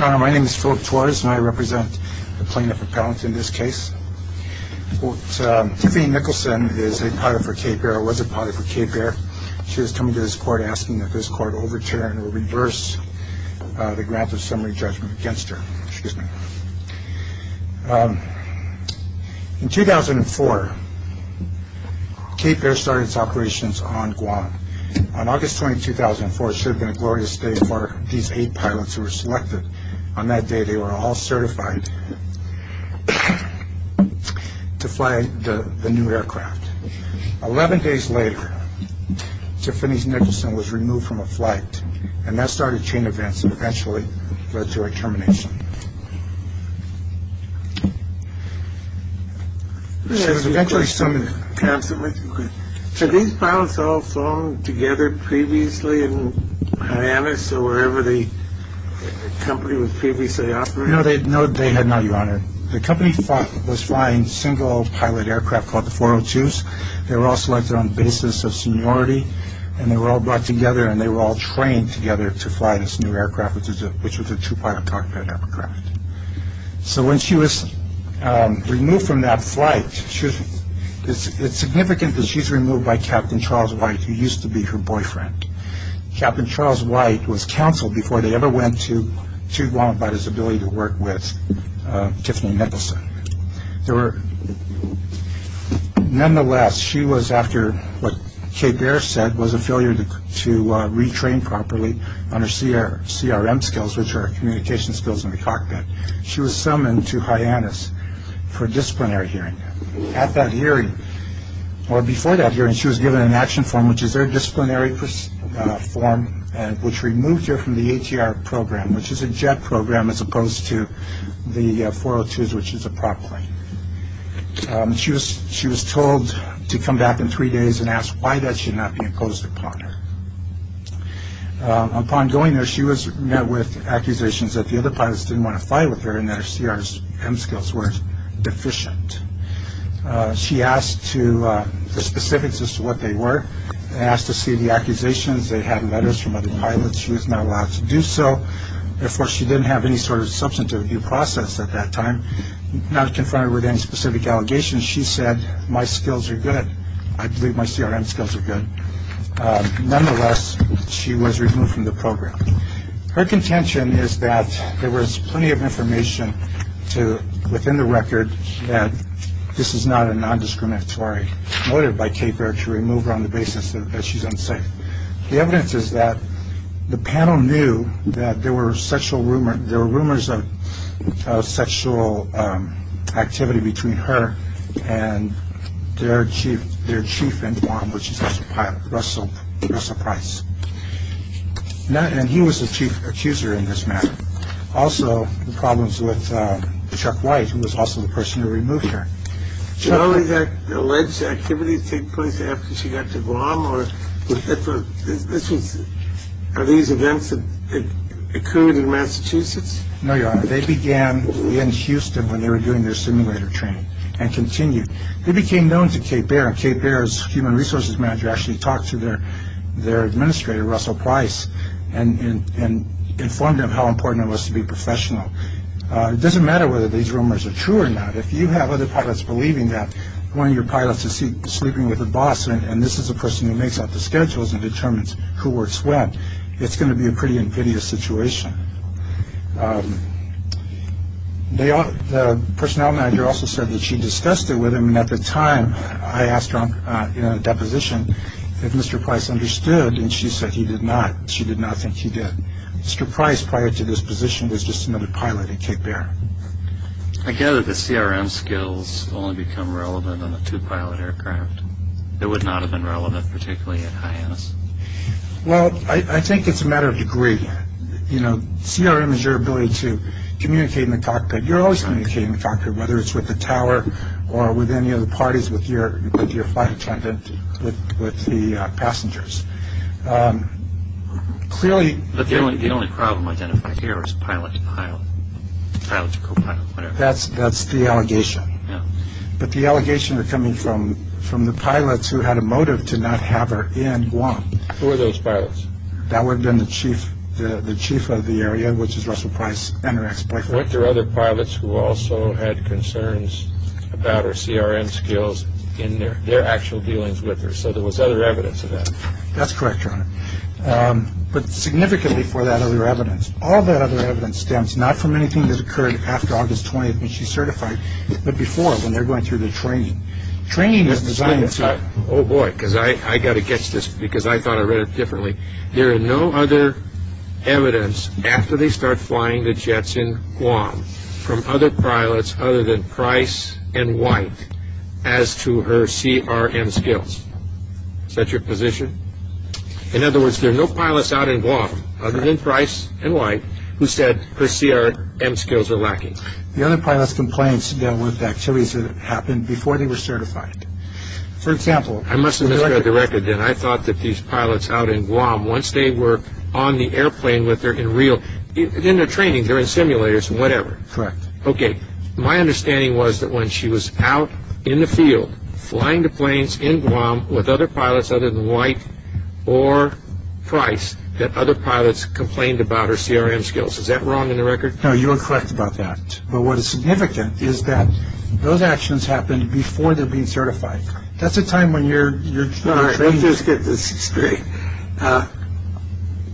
My name is Philip Torres and I represent the plane of repellent in this case. Tiffany Nicholson is a pilot for Cape Air, was a pilot for Cape Air. She is coming to this court asking that this court overturn or reverse the grant of summary judgment against her. In 2004, Cape Air started its operations on Guam. On August 20, 2004, it should have been a glorious day for these eight pilots who were selected. On that day, they were all certified to fly the new aircraft. Eleven days later, Tiffany Nicholson was removed from a flight and that started chain events and eventually led to a termination. So these pilots all flung together previously in Hyannis or wherever the company was previously operating? No, they had not, Your Honor. The company was flying single pilot aircraft called the 402s. They were all selected on the basis of seniority and they were all brought together and they were all trained together to fly this new aircraft, which was a two-pilot cockpit aircraft. So when she was removed from that flight, it's significant that she's removed by Captain Charles White, who used to be her boyfriend. Captain Charles White was counseled before they ever went to Guam about his ability to work with Tiffany Nicholson. Nonetheless, she was after what Cape Air said was a failure to retrain properly on her CRM skills, which are communication skills in the cockpit. She was summoned to Hyannis for a disciplinary hearing. At that hearing, or before that hearing, she was given an action form, which is her disciplinary form, which removed her from the ATR program, which is a jet program as opposed to the 402s, which is a prop plane. She was told to come back in three days and asked why that should not be imposed upon her. Upon going there, she was met with accusations that the other pilots didn't want to fly with her and that her CRM skills were deficient. She asked the specifics as to what they were, asked to see the accusations. They had letters from other pilots. She was not allowed to do so. Therefore, she didn't have any sort of substantive due process at that time. Not confronted with any specific allegations, she said, my skills are good. I believe my CRM skills are good. Nonetheless, she was removed from the program. Her contention is that there was plenty of information to, within the record, that this is not a nondiscriminatory motive by Cape Air to remove her on the basis that she's unsafe. The evidence is that the panel knew that there were sexual rumors, there were rumors of sexual activity between her and their chief in Guam, which is Russell Price. And he was the chief accuser in this matter. Also, the problems with Chuck White, who was also the person who removed her. Charlie, did alleged activities take place after she got to Guam? Are these events occurring in Massachusetts? No, Your Honor. They began in Houston when they were doing their simulator training and continued. They became known to Cape Air and Cape Air's human resources manager actually talked to their administrator, Russell Price, and informed him how important it was to be professional. It doesn't matter whether these rumors are true or not. If you have other pilots believing that one of your pilots is sleeping with a boss and this is a person who makes up the schedules and determines who works when, it's going to be a pretty convivial situation. The personnel manager also said that she discussed it with him and at the time, I asked her in a deposition if Mr. Price understood and she said he did not. She did not think he did. Mr. Price, prior to this position, was just another pilot at Cape Air. I gather the CRM skills only become relevant on a two-pilot aircraft. It would not have been relevant particularly at high-end. Well, I think it's a matter of degree. You know, CRM is your ability to communicate in the cockpit. You're always communicating in the cockpit, whether it's with the tower or with any of the parties, with your flight attendant, with the passengers. Clearly... But the only problem identified here is pilot to pilot, pilot to co-pilot, whatever. That's the allegation. But the allegations are coming from the pilots who had a motive to not have her in Guam. Who are those pilots? That would have been the chief of the area, which is Russell Price and her ex-boyfriend. But there are other pilots who also had concerns about her CRM skills in their actual dealings with her. So there was other evidence of that. That's correct, Your Honor. But significantly for that other evidence, all that other evidence stems not from anything that occurred after August 20th when she certified, but before when they're going through the training. Training is designed to... Oh boy, because I got to get this because I thought I read it differently. There are no other evidence after they start flying the jets in Guam from other pilots other than Price and White as to her CRM skills. Is that your position? In other words, there are no pilots out in Guam other than Price and White who said her CRM skills are lacking. The other pilots' complaints dealt with activities that happened before they were certified. For example... I must have misread the record then. I thought that these pilots out in Guam, once they were on the airplane with her in real... in their training, they're in simulators, whatever. Correct. Okay. My understanding was that when she was out in the field flying the planes in Guam with other pilots other than White or Price, that other pilots complained about her CRM skills. Is that wrong in the record? No, you are correct about that. But what is significant is that those actions happened before they were being certified. That's the time when you're... All right, let's just get this straight.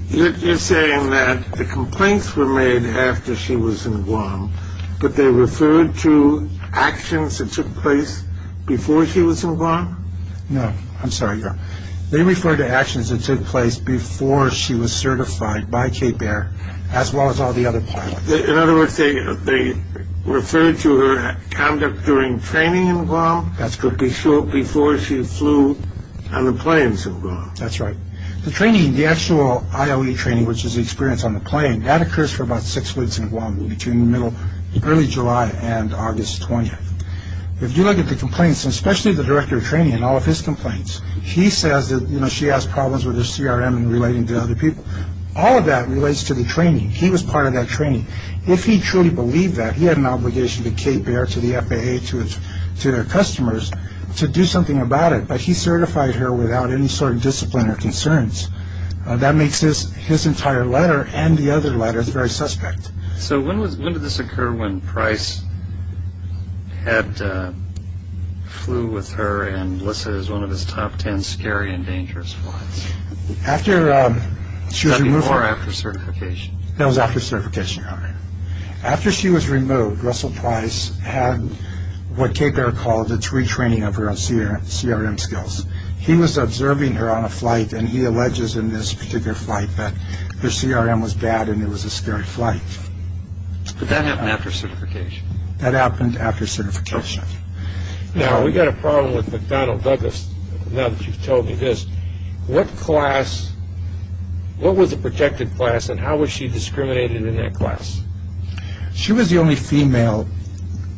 You're saying that the complaints were made after she was in Guam, but they referred to actions that took place before she was in Guam? No, I'm sorry, Your Honor. They referred to actions that took place before she was certified by Cape Air as well as all the other pilots. In other words, they referred to her conduct during training in Guam? That's to be sure, before she flew on the planes in Guam. That's right. The training, the actual ILE training, which is the experience on the plane, that occurs for about six weeks in Guam, between the middle... early July and August 20th. If you look at the complaints, especially the director of training and all of his complaints, he says that, you know, she has problems with her CRM and relating to other people. All of that relates to the training. He was part of that training. If he truly believed that, he had an obligation to Cape Air, to the FAA, to its... to their customers, to do something about it. But he certified her without any sort of discipline or concerns. That makes his... his entire letter and the other letter very suspect. So when was... when did this occur when Price had... flew with her and Melissa is one of his top ten scary and dangerous flights? After she was removed from... Was that before or after certification? That was after certification. After she was removed, Russell Price had what Cape Air called a retraining of her on CRM skills. He was observing her on a flight and he alleges in this particular flight that her CRM was bad and it was a scary flight. Did that happen after certification? That happened after certification. Now, we got a problem with McDonnell Douglas, now that you've told me this. What class... what was the protected class and how was she discriminated in that class? She was the only female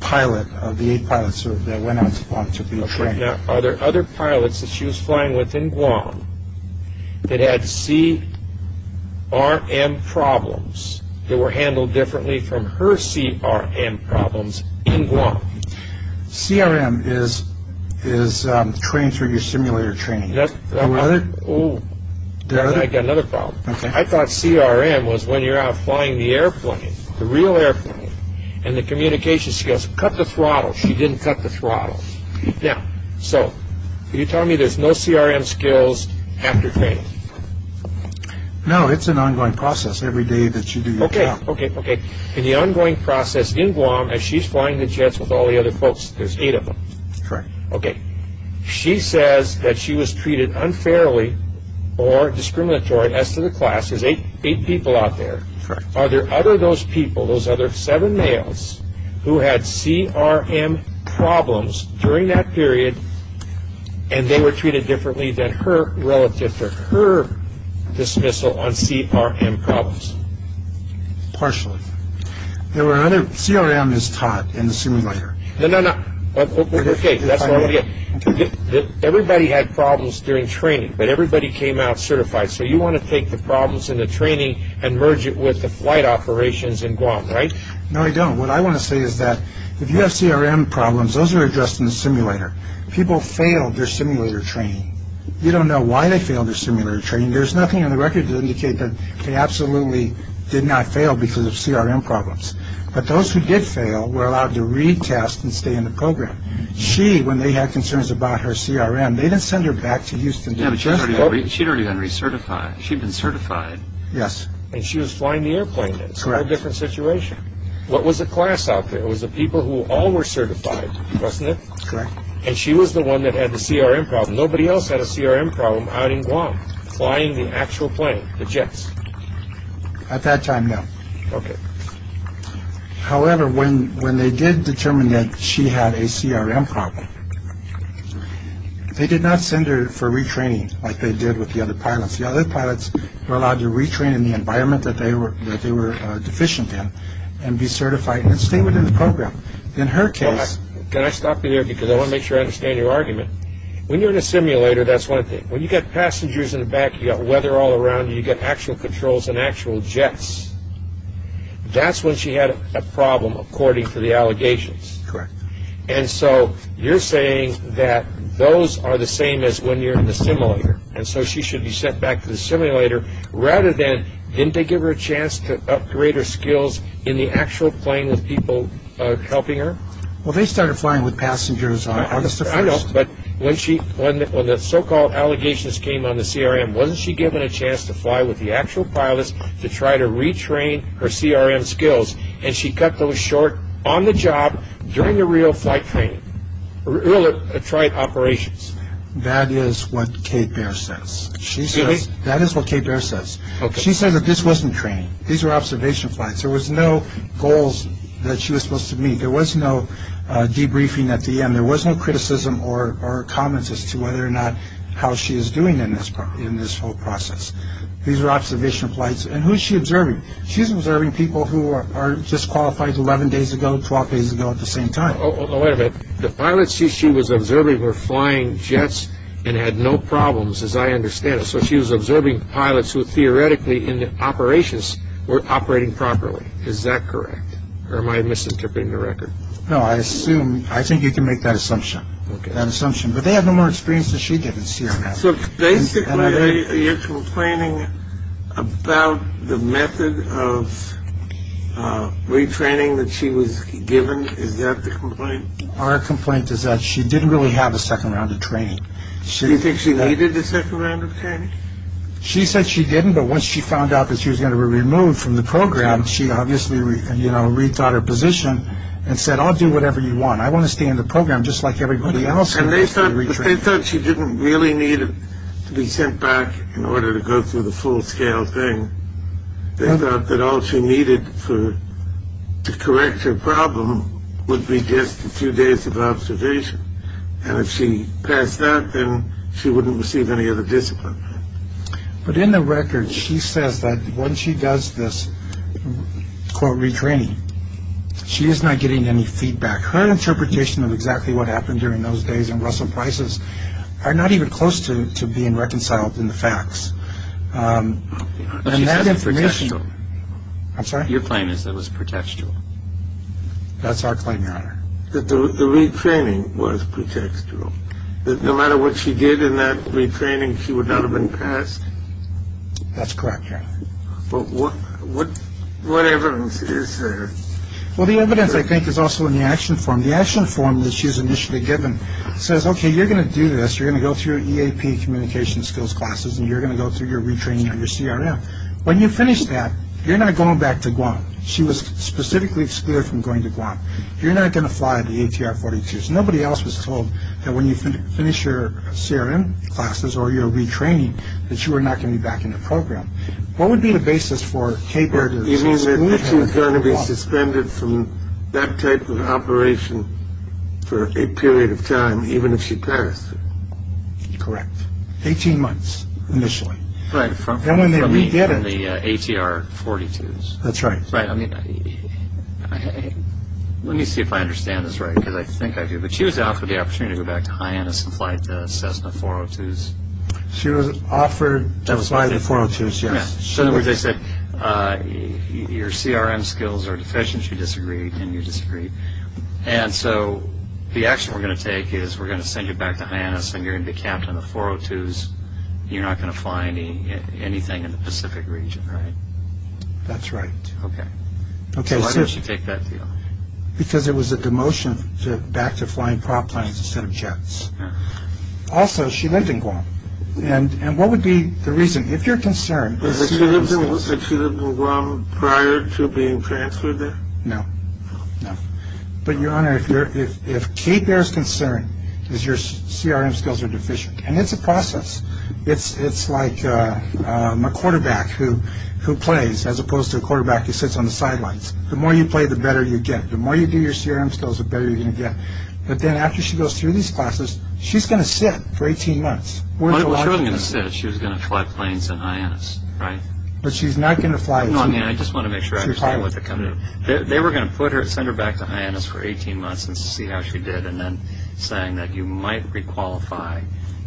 pilot of the eight pilots that went on to be trained. Okay, now are there other pilots that she was flying with in Guam that had CRM problems that were handled differently from her CRM problems in Guam? CRM is... is trained through your simulator training. That's... Another? Oh, I got another problem. Okay. I thought CRM was when you're out flying the airplane, the real airplane, and the communication skills. Cut the throttle. She didn't cut the throttle. Now, so, you're telling me there's no CRM skills after training? No, it's an ongoing process every day that you do your job. Okay, okay, okay. In the ongoing process in Guam as she's flying the jets with all the other folks, there's eight of them. Correct. Okay. She says that she was treated unfairly or discriminatory as to the class. There's eight people out there. Correct. Are there other of those people, those other seven males, who had CRM problems during that entire dismissal on CRM problems? Partially. There were other... CRM is taught in the simulator. No, no, no. Okay, that's all I'm going to get. Everybody had problems during training, but everybody came out certified. So, you want to take the problems in the training and merge it with the flight operations in Guam, right? No, I don't. What I want to say is that if you have CRM problems, those are addressed in the simulator. People fail their simulator training. You don't know why they fail their simulator training. There's nothing on the record to indicate that they absolutely did not fail because of CRM problems. But those who did fail were allowed to retest and stay in the program. She, when they had concerns about her CRM, they didn't send her back to Houston. Yeah, but she'd already been recertified. She'd been certified. Yes. And she was flying the airplane. Correct. It's a whole different situation. What was the class out there? It was the people who all were certified, wasn't it? Correct. And she was the one that had the CRM problem. Nobody else had a CRM problem out in Guam flying the actual plane, the jets. At that time, no. Okay. However, when they did determine that she had a CRM problem, they did not send her for retraining like they did with the other pilots. The other pilots were allowed to retrain in the environment that they were deficient in and be certified and stay within the program. In her case... Can I stop you there because I want to make sure I understand your argument? When you're in a simulator, that's one thing. When you've got passengers in the back, you've got weather all around you, you've got actual controls and actual jets, that's when she had a problem according to the allegations. Correct. And so you're saying that those are the same as when you're in the simulator. And so she should be sent back to the simulator rather than, didn't they give her a chance to upgrade her skills in the actual plane with people helping her? Well, they started flying with passengers on August 1st. I know, but when the so-called allegations came on the CRM, wasn't she given a chance to fly with the actual pilots to try to retrain her CRM skills and she cut those short on the job during the real flight training, real flight operations? That is what Kate Baer says. Really? That is what Kate Baer says. She says that this wasn't training. These were observation flights. There was no goals that she was supposed to meet. There was no debriefing at the end. There was no criticism or comments as to whether or not how she is doing in this whole process. These were observation flights. And who is she observing? She's observing people who are disqualified 11 days ago, 12 days ago at the same time. Oh, wait a minute. The pilots she was observing were flying jets and had no problems as I understand it. So she was observing pilots who theoretically in the operations were operating properly. Is that correct? Or am I misinterpreting the record? No, I assume, I think you can make that assumption. That assumption. But they had no more experience than she did in CRM. So basically you're complaining about the method of retraining that she was given. Is that the complaint? Our complaint is that she didn't really have a second round of training. Do you think she needed a second round of training? She said she didn't. But once she found out that she was going to be removed from the program, she obviously, you know, rethought her position and said, I'll do whatever you want. I want to stay in the program just like everybody else. And they thought she didn't really need to be sent back in order to go through the full scale thing. They thought that all she needed to correct her problem would be just a few days of observation. And if she passed that, then she wouldn't receive any other discipline. But in the record, she says that when she does this, quote, retraining, she is not getting any feedback. Her interpretation of exactly what happened during those days in Russell Price's are not even close to being reconciled in the facts. She said it was pretextual. I'm sorry? Your claim is that it was pretextual. That's our claim, Your Honor. That the retraining was pretextual. That no matter what she did in that retraining, she would not have been passed? That's correct, Your Honor. But what evidence is there? Well, the evidence, I think, is also in the action form. The action form that she was initially given says, okay, you're going to do this. You're going to go through your EAP communication skills classes and you're going to go through your retraining under CRM. When you finish that, you're not going back to Guam. She was specifically excluded from going to Guam. You're not going to fly the ATR-42s. Nobody else was told that when you finish your CRM classes or your retraining, that you are not going to be back in the program. What would be the basis for her to be excluded from Guam? You mean that she was going to be suspended from that type of operation for a period of time, even if she passed? Correct. Eighteen months, initially. Right. From the ATR-42s. That's right. Right. I mean, let me see if I understand this right, because I think I do. But she was offered the opportunity to go back to Hyannis and fly the Cessna 402s. She was offered to fly the 402s, yes. So in other words, they said, your CRM skills are deficient. She disagreed and you disagreed. And so the action we're going to take is we're going to send you back to Hyannis and you're going to be capped on the 402s. You're not going to fly anything in the Pacific region, right? That's right. Okay. So why did she take that deal? Because it was a demotion back to flying prop planes instead of jets. Also, she lived in Guam. And what would be the reason? If you're concerned. But she lived in Guam prior to being transferred there? No. No. But, Your Honor, if Kate bears concern is your CRM skills are deficient, and it's a process. It's like a quarterback who plays as opposed to a quarterback who sits on the sidelines. The more you play, the better you get. The more you do your CRM skills, the better you're going to get. But then after she goes through these classes, she's going to sit for 18 months. Well, she wasn't going to sit. She was going to fly planes in Hyannis, right? But she's not going to fly. No, I mean, I just want to make sure I understand what they're coming to. They were going to send her back to Hyannis for 18 months and see how she did and then saying that you might re-qualify,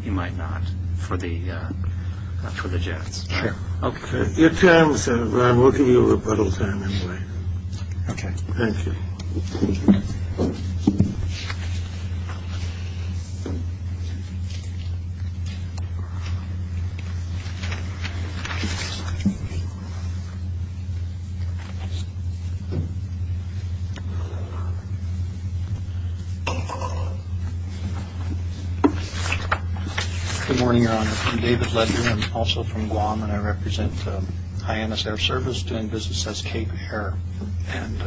you might not for the jets. Sure. Okay. Your time, Senator Brown. We'll give you a rebuttal time anyway. Okay. Thank you. Good morning, Your Honor. I'm David Ledger. I'm also from Guam, and I represent Hyannis Air Service doing business as Cape Air. And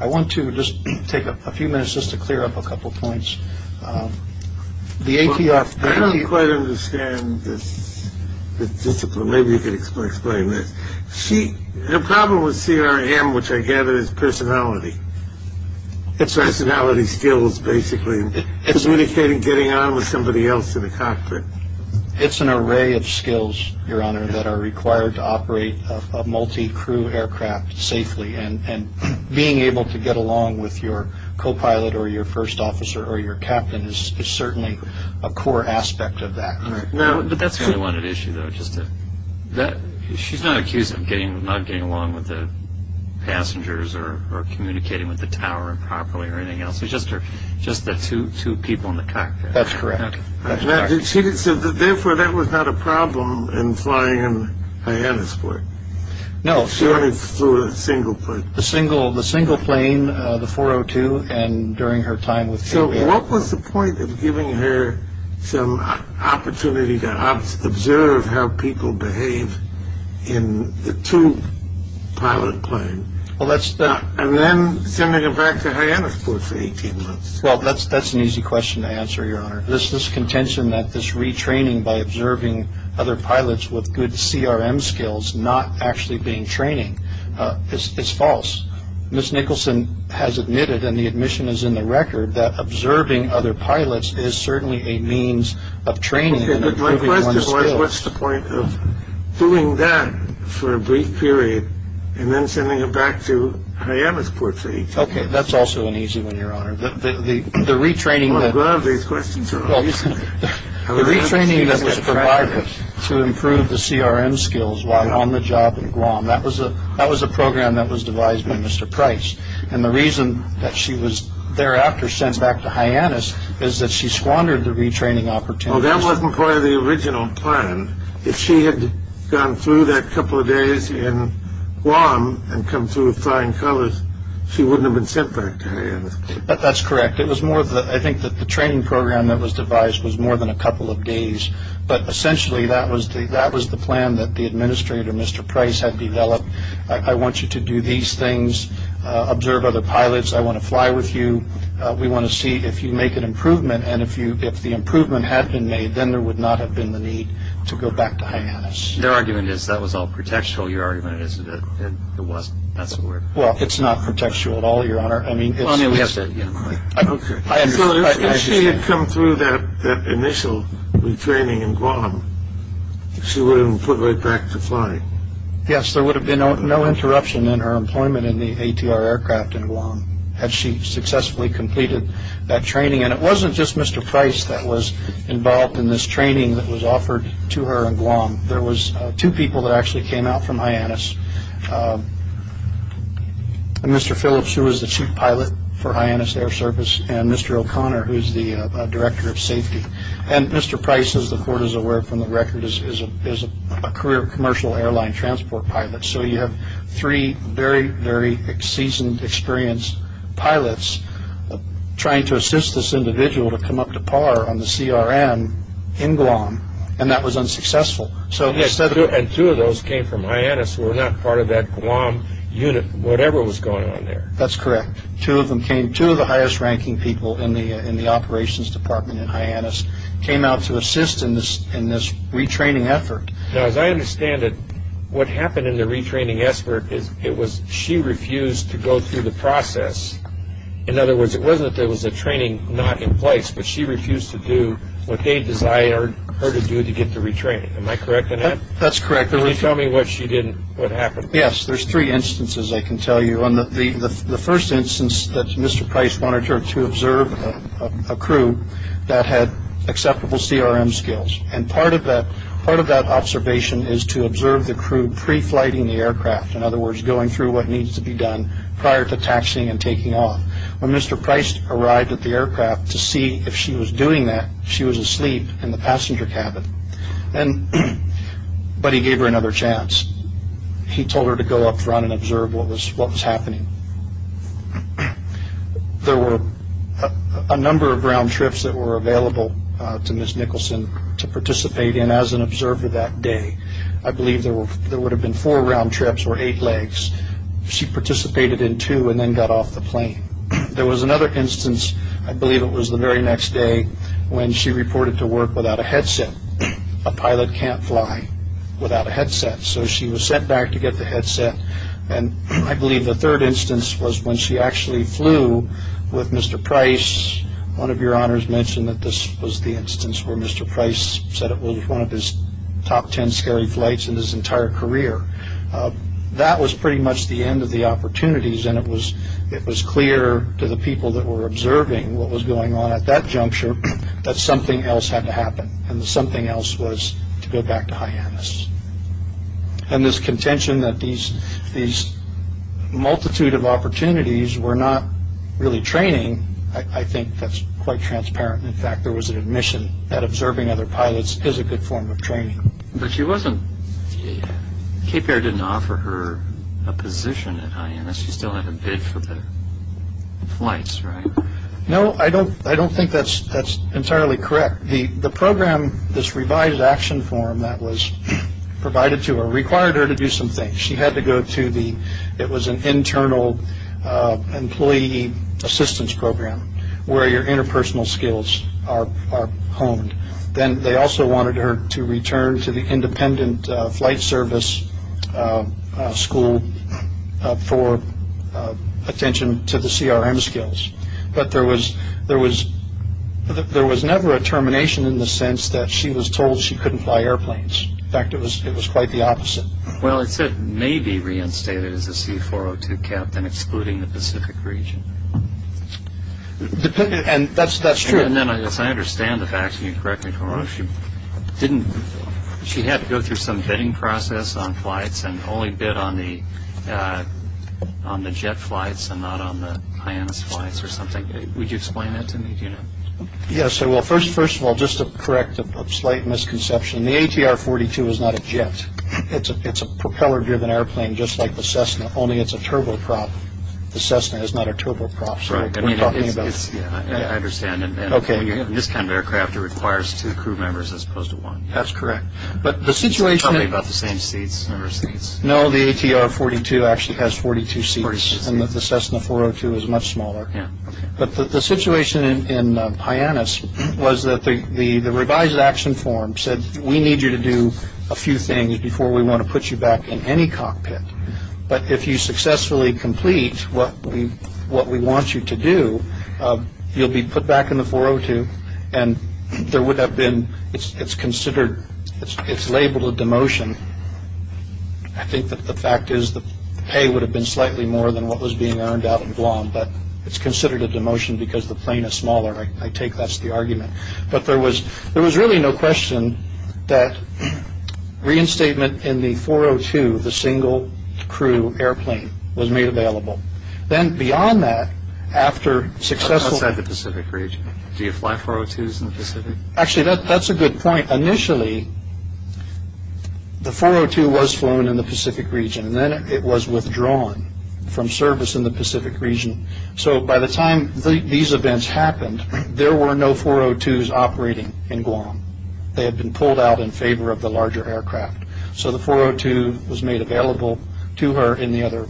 I want to just take a few minutes just to clear up a couple points. The ATF. I don't quite understand this discipline. Maybe you could explain this. The problem with CRM, which I gather is personality. It's personality skills, basically, communicating, getting on with somebody else in a cockpit. It's an array of skills, Your Honor, that are required to operate a multi-crew aircraft safely. And being able to get along with your copilot or your first officer or your captain is certainly a core aspect of that. But that's the only one at issue, though. She's not accused of not getting along with the passengers or communicating with the tower properly or anything else. It's just the two people in the cockpit. That's correct. Therefore, that was not a problem in flying in Hyannis for it. No. She only flew a single plane. The single plane, the 402, and during her time with Cape Air. What was the point of giving her some opportunity to observe how people behave in the two-pilot plane and then sending her back to Hyannis for 18 months? Well, that's an easy question to answer, Your Honor. This contention that this retraining by observing other pilots with good CRM skills not actually being training is false. Ms. Nicholson has admitted, and the admission is in the record, that observing other pilots is certainly a means of training and improving one's skills. Okay, but my question was what's the point of doing that for a brief period and then sending her back to Hyannis for 18 months? Okay, that's also an easy one, Your Honor. The retraining that was provided to improve the CRM skills while on the job in Guam, that was a program that was devised by Mr. Price. And the reason that she was thereafter sent back to Hyannis is that she squandered the retraining opportunities. Well, that wasn't part of the original plan. If she had gone through that couple of days in Guam and come through with flying colors, she wouldn't have been sent back to Hyannis. But that's correct. I think that the training program that was devised was more than a couple of days. But essentially that was the plan that the administrator, Mr. Price, had developed. I want you to do these things. Observe other pilots. I want to fly with you. We want to see if you make an improvement. And if the improvement had been made, then there would not have been the need to go back to Hyannis. Their argument is that was all pretextual. Your argument is that it wasn't. That's the word. Well, it's not pretextual at all, Your Honor. Well, I mean, we have said it. So if she had come through that initial retraining in Guam, she wouldn't have been put right back to flying. Yes, there would have been no interruption in her employment in the ATR aircraft in Guam had she successfully completed that training. And it wasn't just Mr. Price that was involved in this training that was offered to her in Guam. There was two people that actually came out from Hyannis. Mr. Phillips, who was the chief pilot for Hyannis Air Service, and Mr. O'Connor, who is the director of safety. And Mr. Price, as the Court is aware from the record, is a career commercial airline transport pilot. So you have three very, very seasoned, experienced pilots trying to assist this individual to come up to par on the CRM in Guam, and that was unsuccessful. And two of those came from Hyannis who were not part of that Guam unit, whatever was going on there. That's correct. Two of the highest-ranking people in the operations department in Hyannis came out to assist in this retraining effort. Now, as I understand it, what happened in the retraining effort is it was she refused to go through the process. In other words, it wasn't that there was a training not in place, but she refused to do what they desired her to do to get the retraining. Am I correct in that? That's correct. Can you tell me what happened? Yes, there's three instances I can tell you. The first instance that Mr. Price wanted her to observe a crew that had acceptable CRM skills. And part of that observation is to observe the crew pre-flighting the aircraft, in other words, going through what needs to be done prior to taxiing and taking off. When Mr. Price arrived at the aircraft to see if she was doing that, she was asleep in the passenger cabin. But he gave her another chance. He told her to go up front and observe what was happening. There were a number of round trips that were available to Ms. Nicholson to participate in as an observer that day. I believe there would have been four round trips or eight legs. She participated in two and then got off the plane. There was another instance, I believe it was the very next day, when she reported to work without a headset. A pilot can't fly without a headset. So she was sent back to get the headset. And I believe the third instance was when she actually flew with Mr. Price. One of your honors mentioned that this was the instance where Mr. Price said it was one of his top ten scary flights in his entire career. That was pretty much the end of the opportunities. And it was clear to the people that were observing what was going on at that juncture that something else had to happen. And something else was to go back to Hyannis. And this contention that these multitude of opportunities were not really training, I think that's quite transparent. In fact, there was an admission that observing other pilots is a good form of training. But she wasn't – Cape Air didn't offer her a position at Hyannis. She still had to bid for the flights, right? No, I don't think that's entirely correct. The program, this revised action form that was provided to her, required her to do some things. She had to go to the – it was an internal employee assistance program where your interpersonal skills are honed. Then they also wanted her to return to the independent flight service school for attention to the CRM skills. But there was never a termination in the sense that she was told she couldn't fly airplanes. In fact, it was quite the opposite. Well, it said maybe reinstated as a C-402 captain, excluding the Pacific region. And that's true. And then, as I understand the facts, and you correct me, she had to go through some bidding process on flights and only bid on the jet flights and not on the Hyannis flights or something. Would you explain that to me? Yes, I will. First of all, just to correct a slight misconception, the ATR-42 is not a jet. It's a propeller-driven airplane just like the Cessna, only it's a turboprop. The Cessna is not a turboprop. I understand. In this kind of aircraft, it requires two crew members as opposed to one. That's correct. Tell me about the same number of seats. No, the ATR-42 actually has 42 seats and the Cessna-402 is much smaller. But the situation in Hyannis was that the revised action form said, we need you to do a few things before we want to put you back in any cockpit. But if you successfully complete what we want you to do, you'll be put back in the 402 and it's labeled a demotion. I think that the fact is that the pay would have been slightly more than what was being earned out in Guam, but it's considered a demotion because the plane is smaller. I take that as the argument. But there was really no question that reinstatement in the 402, the single-crew airplane, was made available. Then beyond that, after successful… Outside the Pacific region, do you fly 402s in the Pacific? Actually, that's a good point. Initially, the 402 was flown in the Pacific region and then it was withdrawn from service in the Pacific region. So by the time these events happened, there were no 402s operating in Guam. They had been pulled out in favor of the larger aircraft. So the 402 was made available to her in the other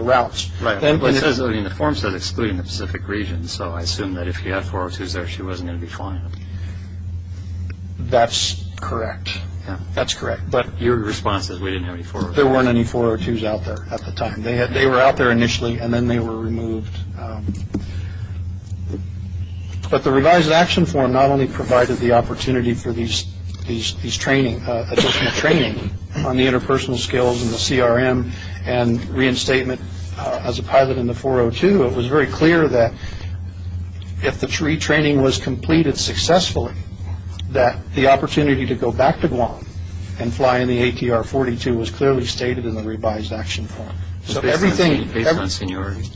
routes. The form said, excluding the Pacific region, so I assume that if you had 402s there, she wasn't going to be flying them. That's correct. Your response is, we didn't have any 402s. There weren't any 402s out there at the time. They were out there initially and then they were removed. But the revised action form not only provided the opportunity for these additional training on the interpersonal skills and the CRM and reinstatement as a pilot in the 402, it was very clear that if the retraining was completed successfully, that the opportunity to go back to Guam and fly in the ATR-42 was clearly stated in the revised action form. Based on seniority,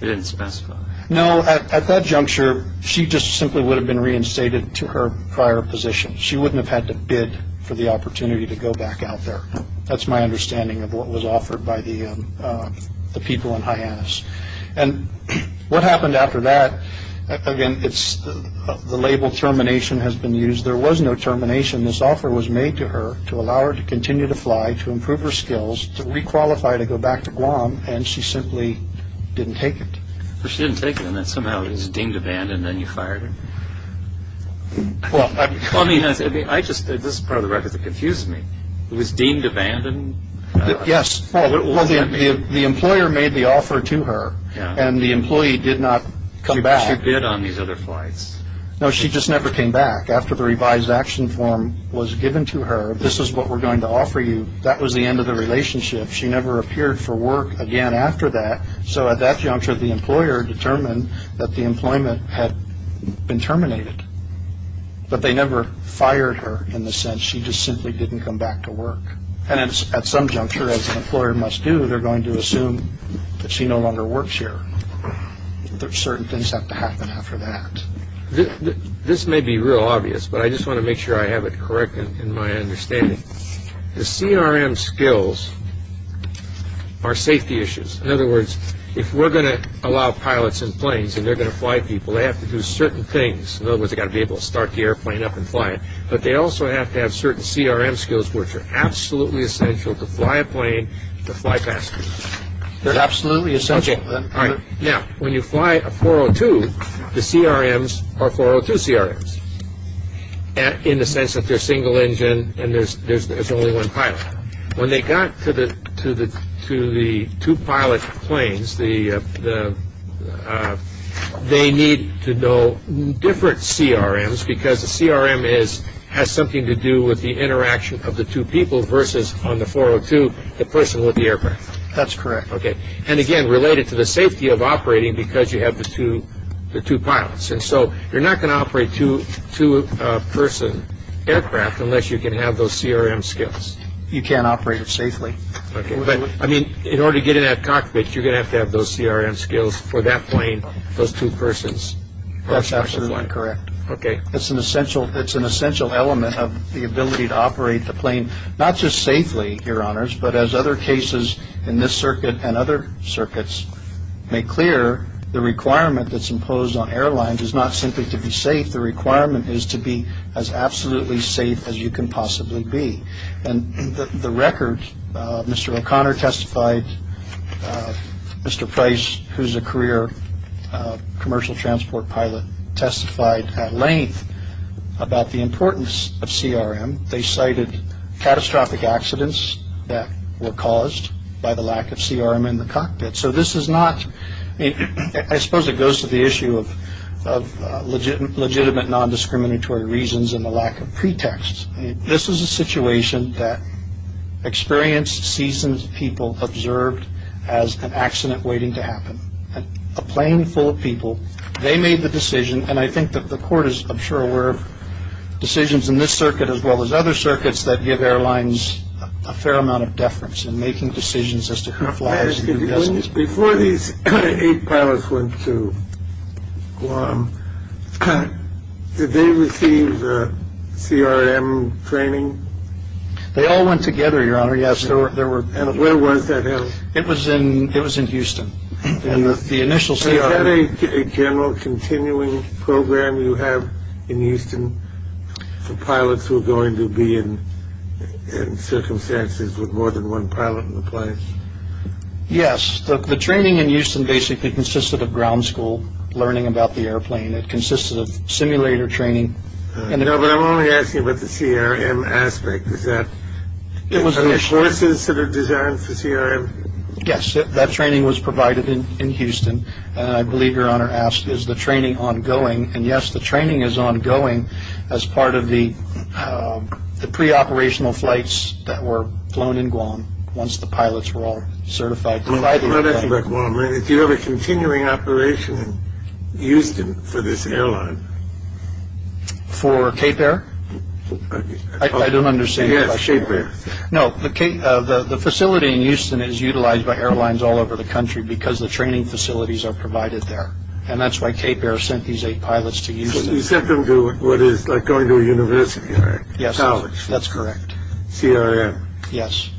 they didn't specify? No, at that juncture, she just simply would have been reinstated to her prior position. She wouldn't have had to bid for the opportunity to go back out there. That's my understanding of what was offered by the people in Hyannis. What happened after that, again, the label termination has been used. There was no termination. This offer was made to her to allow her to continue to fly, to improve her skills, to re-qualify to go back to Guam, and she simply didn't take it. She didn't take it and somehow it was deemed abandoned and then you fired her. This is part of the record that confused me. It was deemed abandoned? Yes. Well, the employer made the offer to her and the employee did not come back. She bid on these other flights. No, she just never came back. After the revised action form was given to her, this is what we're going to offer you, that was the end of the relationship. She never appeared for work again after that. So at that juncture, the employer determined that the employment had been terminated, but they never fired her in the sense she just simply didn't come back to work. And at some juncture, as an employer must do, they're going to assume that she no longer works here. Certain things have to happen after that. This may be real obvious, but I just want to make sure I have it correct in my understanding. The CRM skills are safety issues. In other words, if we're going to allow pilots in planes and they're going to fly people, they have to do certain things. In other words, they've got to be able to start the airplane up and fly it, but they also have to have certain CRM skills which are absolutely essential to fly a plane to fly faster. They're absolutely essential. Now, when you fly a 402, the CRMs are 402 CRMs in the sense that they're single engine and there's only one pilot. When they got to the two pilot planes, they need to know different CRMs because the CRM has something to do with the interaction of the two people versus on the 402, the person with the aircraft. That's correct. And again, related to the safety of operating because you have the two pilots. And so you're not going to operate two-person aircraft unless you can have those CRM skills. You can't operate it safely. I mean, in order to get in that cockpit, you're going to have to have those CRM skills for that plane, those two persons. That's absolutely correct. It's an essential element of the ability to operate the plane, not just safely, Your Honors, but as other cases in this circuit and other circuits make clear, the requirement that's imposed on airlines is not simply to be safe. The requirement is to be as absolutely safe as you can possibly be. And the record, Mr. O'Connor testified, Mr. Price, who's a career commercial transport pilot, testified at length about the importance of CRM. They cited catastrophic accidents that were caused by the lack of CRM in the cockpit. So this is not, I suppose it goes to the issue of legitimate nondiscriminatory reasons and the lack of pretexts. This is a situation that experienced, seasoned people observed as an accident waiting to happen. A plane full of people, they made the decision. And I think that the court is, I'm sure, aware of decisions in this circuit as well as other circuits that give airlines a fair amount of deference in making decisions as to who flies and who doesn't. Before these eight pilots went to Guam, did they receive the CRM training? They all went together, Your Honor. Yes, there were. And where was that held? It was in it was in Houston. And the initial CRM. Is that a general continuing program you have in Houston for pilots who are going to be in circumstances with more than one pilot in the plane? Yes. The training in Houston basically consisted of ground school, learning about the airplane. It consisted of simulator training. But I'm only asking about the CRM aspect. Is that it was the forces that are designed for CRM? Yes. That training was provided in Houston. And I believe Your Honor asked, is the training ongoing? And yes, the training is ongoing as part of the pre-operational flights that were flown in Guam. Once the pilots were all certified. If you have a continuing operation in Houston for this airline. For Cape Air? I don't understand. Yes, Cape Air. No, the facility in Houston is utilized by airlines all over the country because the training facilities are provided there. And that's why Cape Air sent these eight pilots to Houston. You sent them to what is like going to a university, right? Yes. College. That's correct. CRM. Yes.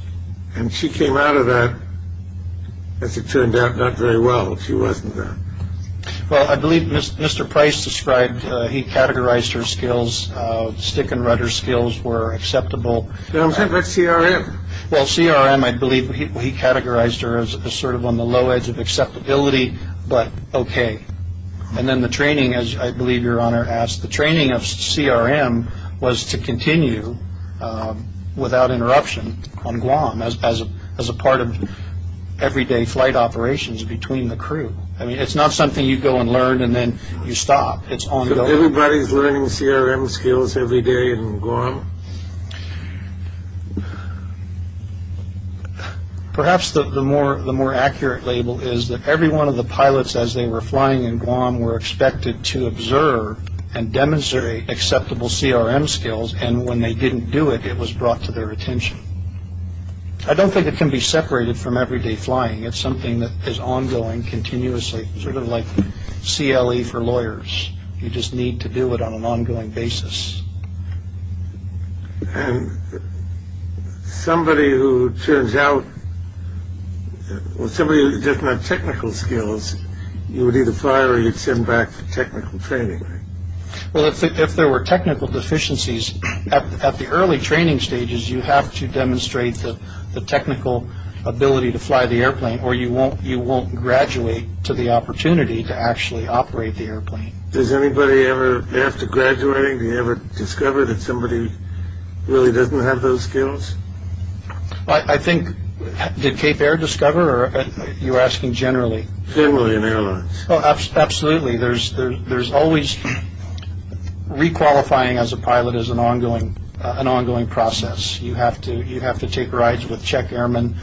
And she came out of that, as it turned out, not very well. She wasn't there. Well, I believe Mr. Price described he categorized her skills. Stick and rudder skills were acceptable. What about CRM? Well, CRM, I believe he categorized her as sort of on the low edge of acceptability, but okay. And then the training, as I believe Your Honor asked, the training of CRM was to continue without interruption on Guam as a part of everyday flight operations between the crew. I mean, it's not something you go and learn and then you stop. It's ongoing. Everybody's learning CRM skills every day in Guam. Perhaps the more the more accurate label is that every one of the pilots, as they were flying in Guam, were expected to observe and demonstrate acceptable CRM skills. And when they didn't do it, it was brought to their attention. I don't think it can be separated from everyday flying. It's something that is ongoing continuously, sort of like CLE for lawyers. You just need to do it on an ongoing basis. And somebody who turns out, well, somebody who doesn't have technical skills, you would either fire or you'd send them back for technical training. Well, if there were technical deficiencies at the early training stages, you have to demonstrate the technical ability to fly the airplane or you won't graduate to the opportunity to actually operate the airplane. Does anybody ever, after graduating, do you ever discover that somebody really doesn't have those skills? I think, did Cape Air discover? You're asking generally. Generally in airlines. Absolutely. There's always re-qualifying as a pilot is an ongoing process. You have to take rides with check airmen.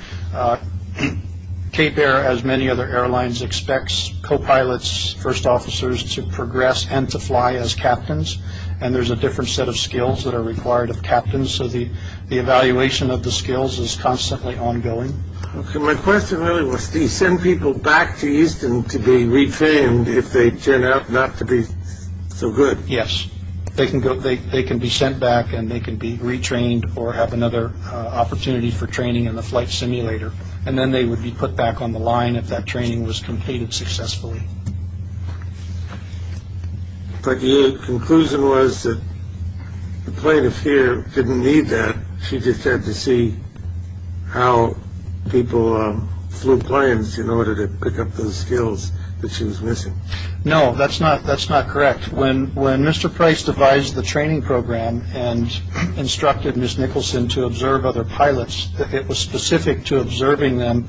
Cape Air, as many other airlines, expects co-pilots, first officers, to progress and to fly as captains. And there's a different set of skills that are required of captains. So the evaluation of the skills is constantly ongoing. Okay. My question really was, do you send people back to Houston to be retrained if they turn out not to be so good? Yes. They can be sent back and they can be retrained or have another opportunity for training in the flight simulator. And then they would be put back on the line if that training was completed successfully. But the conclusion was that the plaintiff here didn't need that. She just had to see how people flew planes in order to pick up those skills that she was missing. No, that's not correct. When Mr. Price devised the training program and instructed Ms. Nicholson to observe other pilots, it was specific to observing them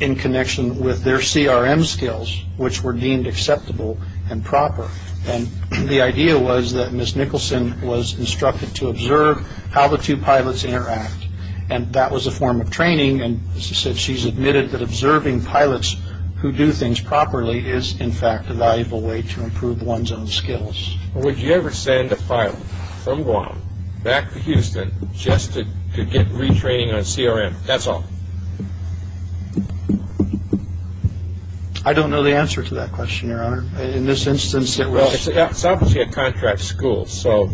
in connection with their CRM skills, which were deemed acceptable and proper. And the idea was that Ms. Nicholson was instructed to observe how the two pilots interact. And that was a form of training. And she's admitted that observing pilots who do things properly is, in fact, a valuable way to improve one's own skills. Would you ever send a pilot from Guam back to Houston just to get retraining on CRM? That's all. I don't know the answer to that question, Your Honor. In this instance, it was... Well, it's obviously a contract school, so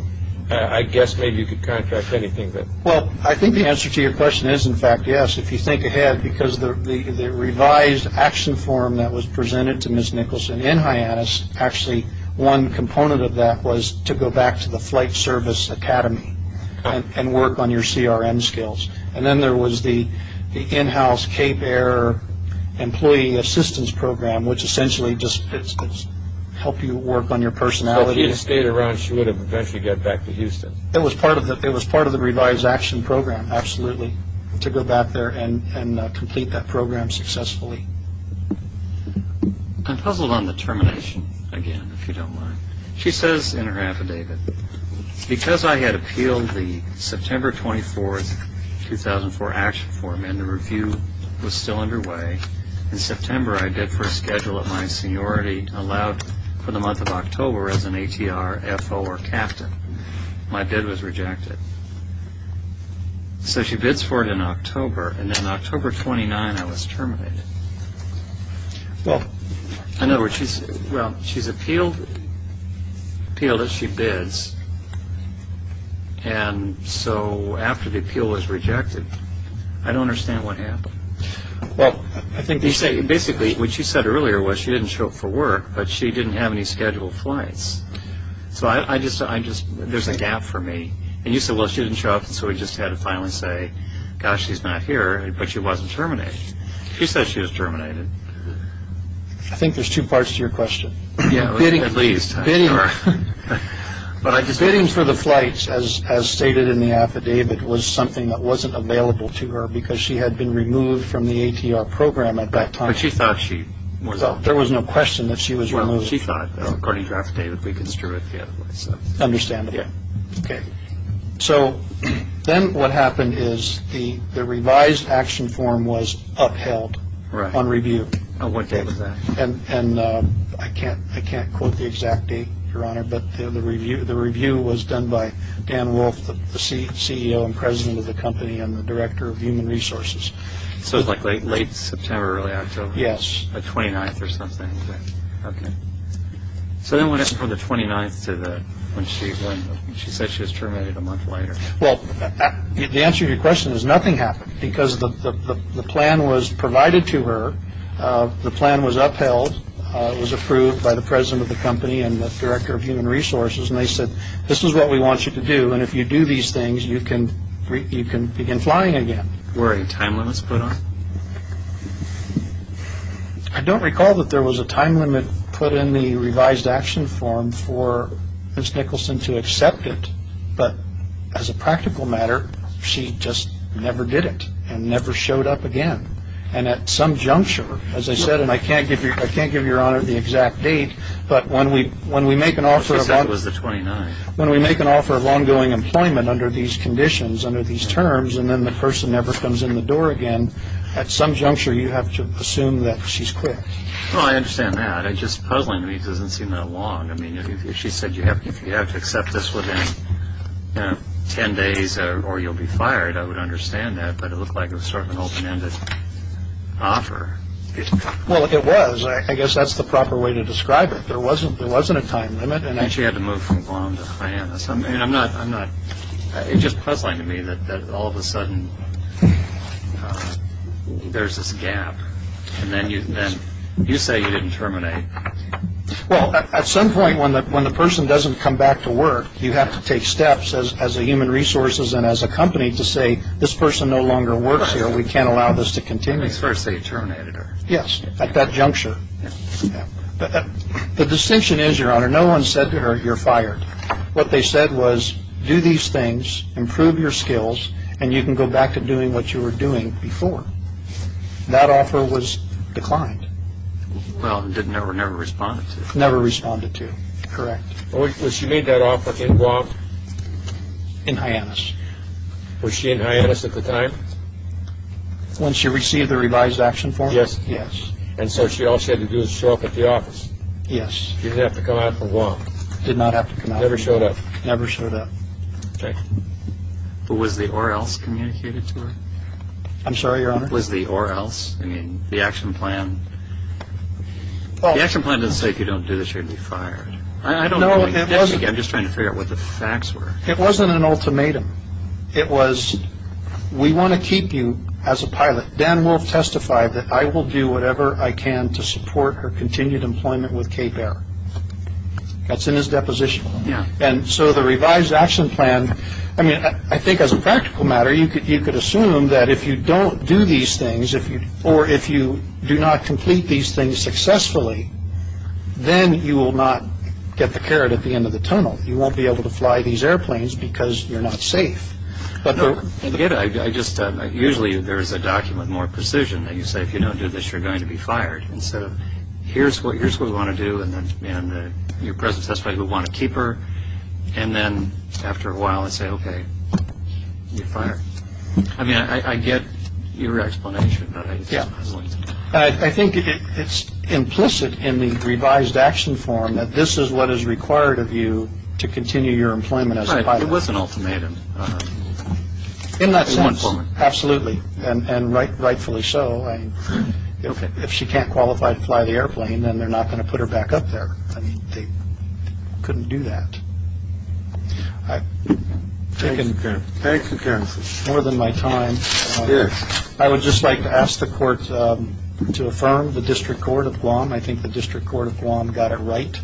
I guess maybe you could contract anything. Well, I think the answer to your question is, in fact, yes, if you think ahead. Because the revised action form that was presented to Ms. Nicholson in Hyannis, actually one component of that was to go back to the flight service academy and work on your CRM skills. And then there was the in-house Cape Air employee assistance program, which essentially just helps you work on your personality. So if she had stayed around, she would have eventually got back to Houston. It was part of the revised action program, absolutely, to go back there and complete that program successfully. I'm puzzled on the termination again, if you don't mind. She says in her affidavit, because I had appealed the September 24, 2004 action form and the review was still underway, in September I bid for a schedule that my seniority allowed for the month of October as an ATR, FO, or captain. My bid was rejected. So she bids for it in October, and then October 29, I was terminated. Well, she's appealed it, she bids, and so after the appeal was rejected, I don't understand what happened. Well, I think... Basically, what she said earlier was she didn't show up for work, but she didn't have any scheduled flights. So I just, there's a gap for me. And you said, well, she didn't show up, so we just had to finally say, gosh, she's not here, but she wasn't terminated. She said she was terminated. I think there's two parts to your question. Yeah, at least. Bidding for the flights, as stated in the affidavit, was something that wasn't available to her because she had been removed from the ATR program at that time. But she thought she was... There was no question that she was removed. Well, she thought, according to her affidavit, we construed it the other way. I understand that. Yeah. Okay. So then what happened is the revised action form was upheld on review. Right. On what date was that? And I can't quote the exact date, Your Honor, but the review was done by Dan Wolfe, the CEO and president of the company and the director of human resources. So it was like late September, early October. Yes. The 29th or something. Okay. So then what happened for the 29th when she said she was terminated a month later? Well, the answer to your question is nothing happened because the plan was provided to her. The plan was upheld. It was approved by the president of the company and the director of human resources. And they said, this is what we want you to do. And if you do these things, you can begin flying again. Were any time limits put on? I don't recall that there was a time limit put in the revised action form for Ms. Nicholson to accept it. But as a practical matter, she just never did it and never showed up again. And at some juncture, as I said, and I can't give Your Honor the exact date, but when we make an offer of ongoing employment under these conditions, under these terms, and then the person never comes in the door again, at some juncture you have to assume that she's quit. Well, I understand that. It's just puzzling to me. It doesn't seem that long. I mean, if she said you have to accept this within 10 days or you'll be fired, I would understand that. But it looked like it was sort of an open-ended offer. Well, it was. I guess that's the proper way to describe it. There wasn't a time limit. And she had to move from Guam to Hyannis. And I'm not – it's just puzzling to me that all of a sudden there's this gap. And then you say you didn't terminate. Well, at some point when the person doesn't come back to work, you have to take steps as a human resources and as a company to say this person no longer works here. We can't allow this to continue. At least first they terminated her. Yes, at that juncture. The distinction is, Your Honor, no one said to her you're fired. What they said was do these things, improve your skills, and you can go back to doing what you were doing before. That offer was declined. Well, and never responded to it. Never responded to it. Correct. Was she made that offer in Guam? In Hyannis. Was she in Hyannis at the time? When she received the revised action form? Yes. Yes. And so all she had to do was show up at the office? Yes. She didn't have to come out for Guam? Did not have to come out. Never showed up. Never showed up. Okay. But was the or else communicated to her? I'm sorry, Your Honor? Was the or else? I mean, the action plan. The action plan didn't say if you don't do this you're going to be fired. I don't know. I'm just trying to figure out what the facts were. It wasn't an ultimatum. It was we want to keep you as a pilot. Dan Wolfe testified that I will do whatever I can to support her continued employment with Cape Air. That's in his deposition? Yeah. And so the revised action plan, I mean, I think as a practical matter, you could assume that if you don't do these things or if you do not complete these things successfully, then you will not get the carrot at the end of the tunnel. You won't be able to fly these airplanes because you're not safe. I get it. Usually there is a document with more precision that you say if you don't do this you're going to be fired. And so here's what we want to do. And your presence, that's why we want to keep her. And then after a while I say, okay, you're fired. I mean, I get your explanation. I think it's implicit in the revised action form that this is what is required of you to continue your employment as a pilot. It was an ultimatum. In that sense. Absolutely. And rightfully so. If she can't qualify to fly the airplane, then they're not going to put her back up there. They couldn't do that. I think it's more than my time. Yes. I would just like to ask the court to affirm the district court of Guam. I think the district court of Guam got it right.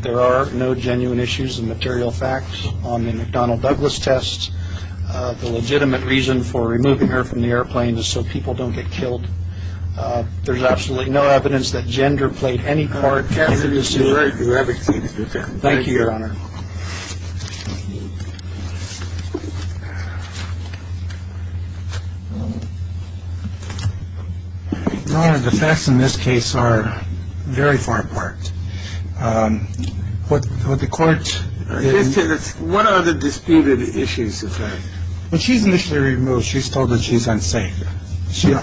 There are no genuine issues and material facts on the McDonnell Douglas test. The legitimate reason for removing her from the airplane is so people don't get killed. There's absolutely no evidence that gender played any part. Thank you, Your Honor. The facts in this case are very far apart. What the court. What are the disputed issues? When she's initially removed, she's told that she's unsafe.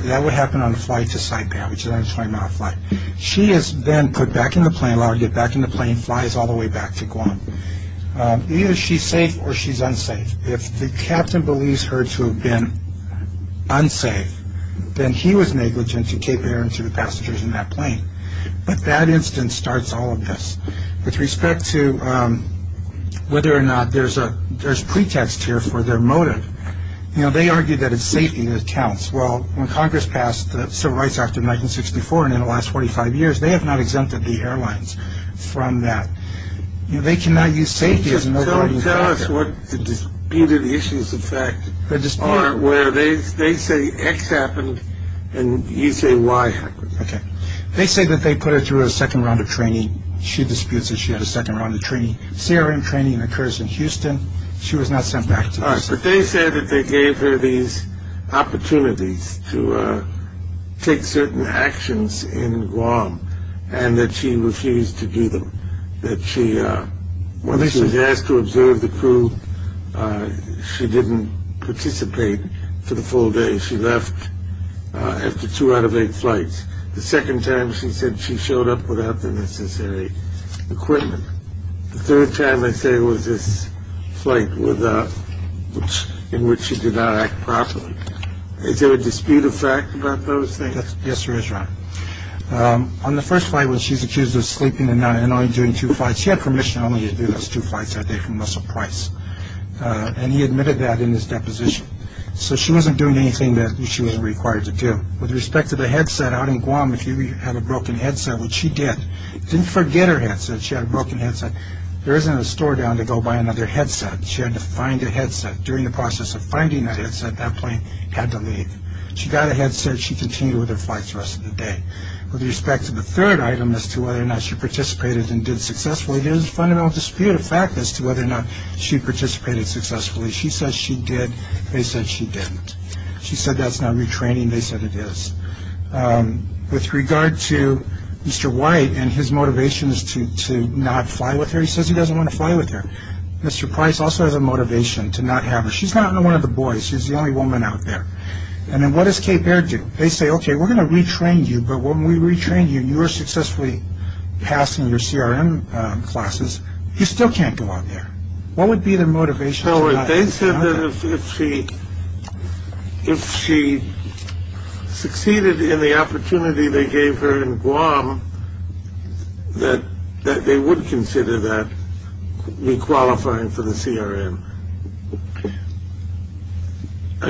That would happen on a flight to Saipan, which is a 20-mile flight. She is then put back in the plane. When I get back in the plane, flies all the way back to Guam. Either she's safe or she's unsafe. If the captain believes her to have been unsafe, then he was negligent to keep air into the passengers in that plane. But that instance starts all of this. With respect to whether or not there's a pretext here for their motive, they argue that it's safety that counts. Well, when Congress passed the Civil Rights Act of 1964 and in the last 45 years, they have not exempted the airlines from that. They cannot use safety as an overriding factor. Tell us what the disputed issues, in fact, are where they say X happened and you say Y happened. Okay. They say that they put her through a second round of training. She disputes that she had a second round of training. CRM training occurs in Houston. She was not sent back. All right. But they said that they gave her these opportunities to take certain actions in Guam and that she refused to do them, that she, when she was asked to observe the crew, she didn't participate for the full day. She left after two out of eight flights. The second time, she said she showed up without the necessary equipment. The third time, they say, was this flight in which she did not act properly. Is there a disputed fact about those things? Yes, there is, Ron. On the first flight, when she's accused of sleeping and only doing two flights, she had permission only to do those two flights that day from Russell Price, and he admitted that in his deposition. So she wasn't doing anything that she was required to do. With respect to the headset, out in Guam, if you had a broken headset, which she did, didn't forget her headset, she had a broken headset, there isn't a store down to go buy another headset. She had to find a headset. During the process of finding that headset, that plane had to leave. She got a headset. She continued with her flights the rest of the day. With respect to the third item as to whether or not she participated and did successfully, there's a fundamental disputed fact as to whether or not she participated successfully. She said she did. They said she didn't. She said that's not retraining. They said it is. With regard to Mr. White and his motivations to not fly with her, he says he doesn't want to fly with her. Mr. Price also has a motivation to not have her. She's not one of the boys. She's the only woman out there. And then what does Cape Air do? They say, okay, we're going to retrain you, but when we retrain you and you are successfully passing your CRM classes, you still can't go out there. What would be the motivation? They said that if she succeeded in the opportunity they gave her in Guam, that they would consider that re-qualifying for the CRM. No,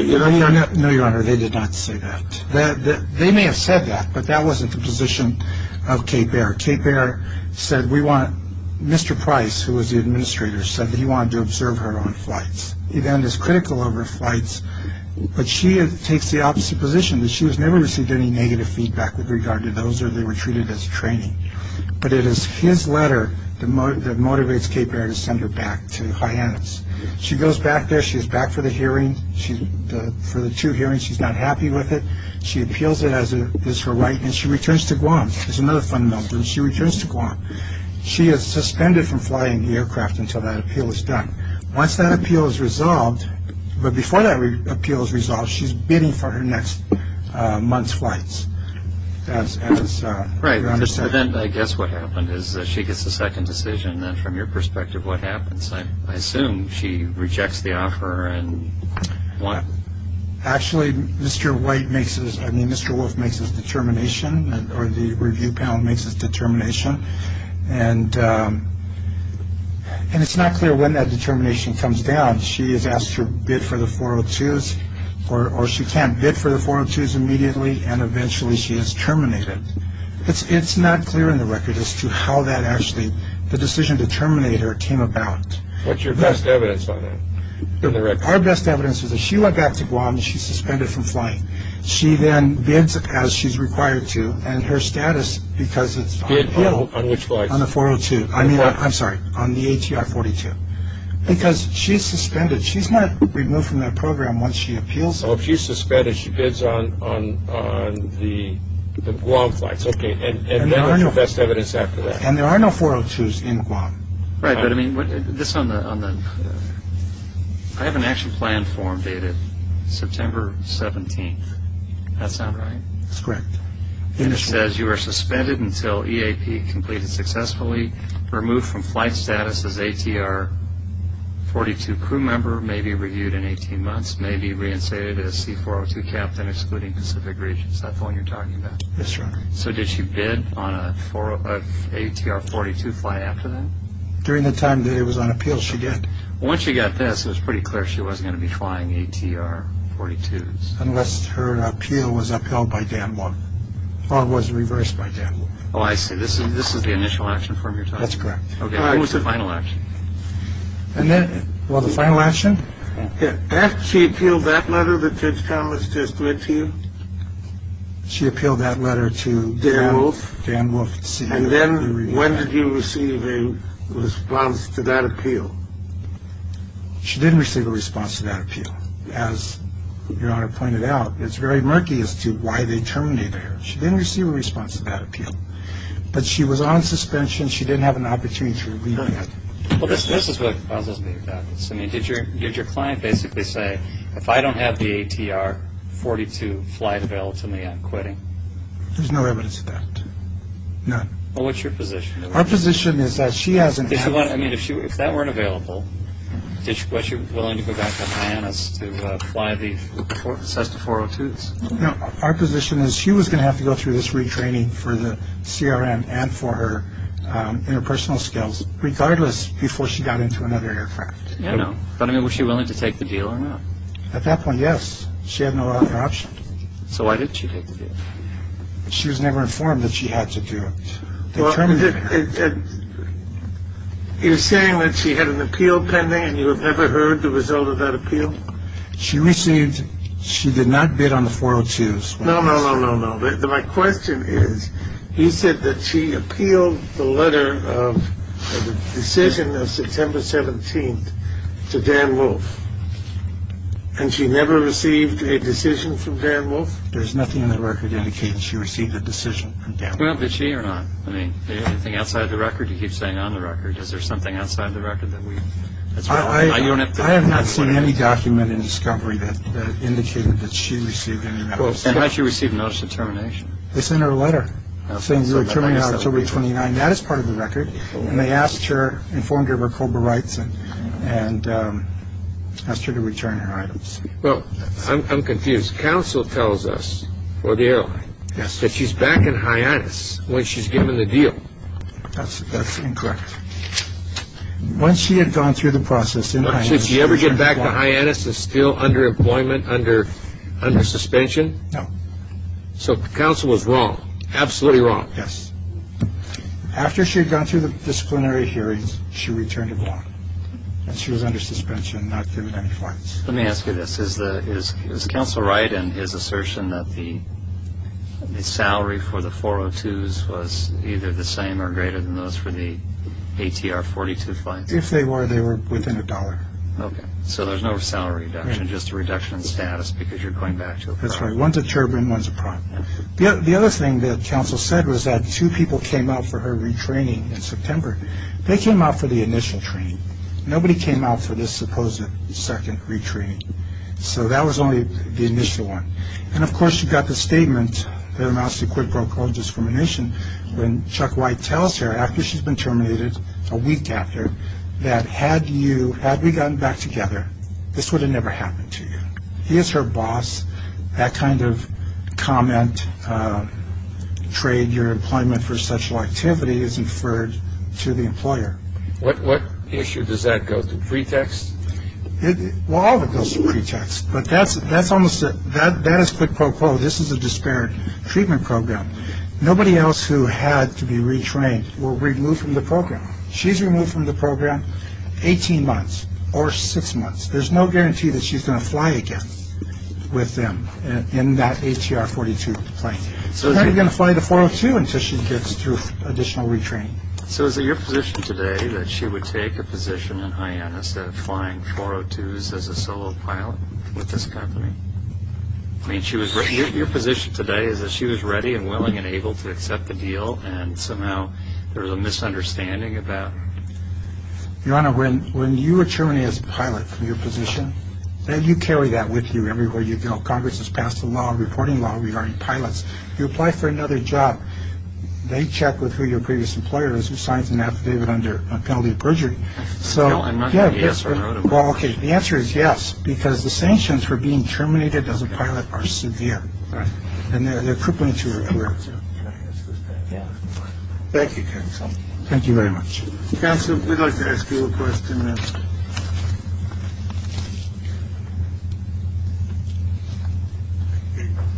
Your Honor, they did not say that. They may have said that, but that wasn't the position of Cape Air. Cape Air said we want Mr. Price, who was the administrator, said that he wanted to observe her on flights. He then is critical of her flights, but she takes the opposite position, that she has never received any negative feedback with regard to those or they were treated as training. But it is his letter that motivates Cape Air to send her back to Hyannis. She goes back there. She is back for the hearing, for the two hearings. She's not happy with it. She appeals it as her right, and she returns to Guam. There's another fundamental thing. She returns to Guam. She is suspended from flying the aircraft until that appeal is done. Once that appeal is resolved, but before that appeal is resolved, she's bidding for her next month's flights. Right, so then I guess what happened is she gets a second decision, and then from your perspective, what happens? I assume she rejects the offer. Actually, Mr. White makes his, I mean, Mr. Wolf makes his determination, or the review panel makes its determination, and it's not clear when that determination comes down. She is asked to bid for the 402s, or she can't bid for the 402s immediately, and eventually she is terminated. It's not clear in the record as to how that actually, the decision to terminate her, came about. What's your best evidence on that? Our best evidence is that she went back to Guam, and she's suspended from flying. She then bids as she's required to, and her status, because it's on the 402, I mean, I'm sorry, on the ATR-42, because she's suspended. She's not removed from that program once she appeals. Oh, she's suspended. She bids on the Guam flights. Okay, and then what's your best evidence after that? And there are no 402s in Guam. Right, but I mean, this on the, I have an action plan form dated September 17th. That sound right? That's correct. And it says you are suspended until EAP completed successfully, removed from flight status as ATR-42 crew member, may be reviewed in 18 months, may be reinstated as C402 captain, excluding Pacific regions. That's the one you're talking about? That's right. So did she bid on an ATR-42 flight after that? During the time that it was on appeal, she did. Well, once she got this, it was pretty clear she wasn't going to be flying ATR-42s. Unless her appeal was upheld by Dan Morgan, or it was reversed by Dan Morgan. Oh, I see. This is the initial action form you're talking about? That's correct. Okay, what was the final action? Well, the final action? Did she appeal that letter that Judge Thomas just read to you? She appealed that letter to Dan Wolf. And then when did you receive a response to that appeal? She didn't receive a response to that appeal. As Your Honor pointed out, it's very murky as to why they terminated her. She didn't receive a response to that appeal. But she was on suspension. She didn't have an opportunity to review it. Well, this is what puzzles me about this. I mean, did your client basically say, if I don't have the ATR-42 flight available to me, I'm quitting? There's no evidence of that. None. Well, what's your position? Our position is that she hasn't had. I mean, if that weren't available, was she willing to go back to Hyannis to fly the Cessna 402s? No, our position is she was going to have to go through this retraining for the CRM and for her interpersonal skills, regardless, before she got into another aircraft. Yeah, no. But, I mean, was she willing to take the deal or not? At that point, yes. She had no other option. So why didn't she take the deal? She was never informed that she had to do it. They terminated her. You're saying that she had an appeal pending and you have never heard the result of that appeal? She received. She did not bid on the 402s. No, no, no, no, no. My question is, you said that she appealed the letter of decision of September 17th to Dan Wolfe and she never received a decision from Dan Wolfe? There's nothing in the record indicating she received a decision from Dan Wolfe. Well, did she or not? I mean, is there anything outside the record? You keep saying on the record. Is there something outside the record? Well, why did she receive a notice of termination? It's in her letter, saying we're terminating her October 29th. That is part of the record. And they asked her, informed her of her COBRA rights, and asked her to return her items. Well, I'm confused. Counsel tells us, or the airline, that she's back in Hyannis when she's given the deal. Once she had gone through the process in Hyannis, Did she ever get back to Hyannis and still under employment, under suspension? No. So counsel was wrong, absolutely wrong. Yes. After she had gone through the disciplinary hearings, she returned to Guam. And she was under suspension, not given any flights. Let me ask you this. Is counsel right in his assertion that the salary for the 402s was either the same or greater than those for the ATR 42 flights? If they were, they were within a dollar. Okay. So there's no salary reduction, just a reduction in status because you're going back to a prime. That's right. One's a turbine, one's a prime. The other thing that counsel said was that two people came out for her retraining in September. They came out for the initial training. Nobody came out for this supposed second retraining. So that was only the initial one. And, of course, you've got the statement that amounts to quid pro quo discrimination when Chuck White tells her after she's been terminated, a week after, that had we gotten back together, this would have never happened to you. He is her boss. That kind of comment, trade your employment for sexual activity, is inferred to the employer. What issue does that go to? Pretext? Well, all of it goes to pretext. But that is quid pro quo. This is a disparate treatment program. Nobody else who had to be retrained were removed from the program. She's removed from the program 18 months or six months. There's no guarantee that she's going to fly again with them in that ATR 42 plane. So they're not going to fly the 402 until she gets through additional retraining. So is it your position today that she would take a position in Hyannis that flying 402s as a solo pilot with this company? I mean, your position today is that she was ready and willing and able to accept the deal, and somehow there was a misunderstanding about it. Your Honor, when you were terminated as a pilot from your position, you carry that with you everywhere you go. Congress has passed a law, a reporting law, regarding pilots. You apply for another job, they check with who your previous employer is who signs an affidavit under a penalty of perjury. I'm not going to say yes or no to that. Well, OK. The answer is yes, because the sanctions for being terminated as a pilot are severe. And they're crippling to her. Thank you. Thank you very much. Counsel, we'd like to ask you a question.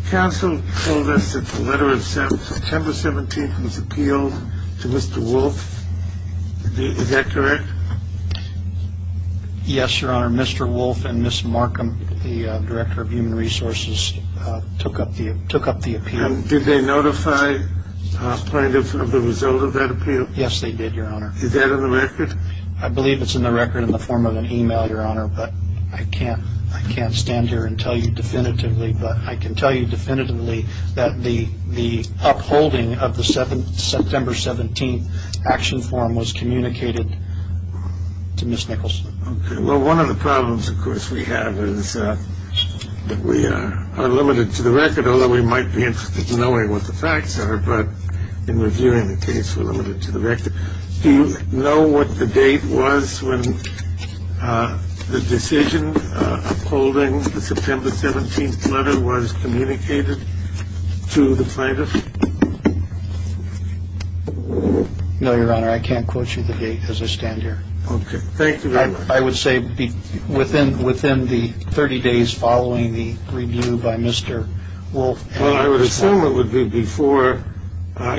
Counsel told us that the letter of September 17 was appealed to Mr. Wolf. Is that correct? Yes, Your Honor. Mr. Wolf and Ms. Markham, the director of human resources, took up the appeal. Did they notify plaintiffs of the result of that appeal? Yes, they did, Your Honor. Is that in the record? I believe it's in the record in the form of an e-mail, Your Honor, but I can't stand here and tell you definitively. But I can tell you definitively that the upholding of the September 17 action form was communicated to Ms. Nicholson. OK. Well, one of the problems, of course, we have is that we are limited to the record, although we might be interested in knowing what the facts are. But in reviewing the case, we're limited to the record. Do you know what the date was when the decision upholding the September 17 letter was communicated to the plaintiff? No, Your Honor. I can't quote you the date as I stand here. OK. Thank you very much. I would say within the 30 days following the review by Mr. Wolf and Ms. Markham. Well, I would assume it would be before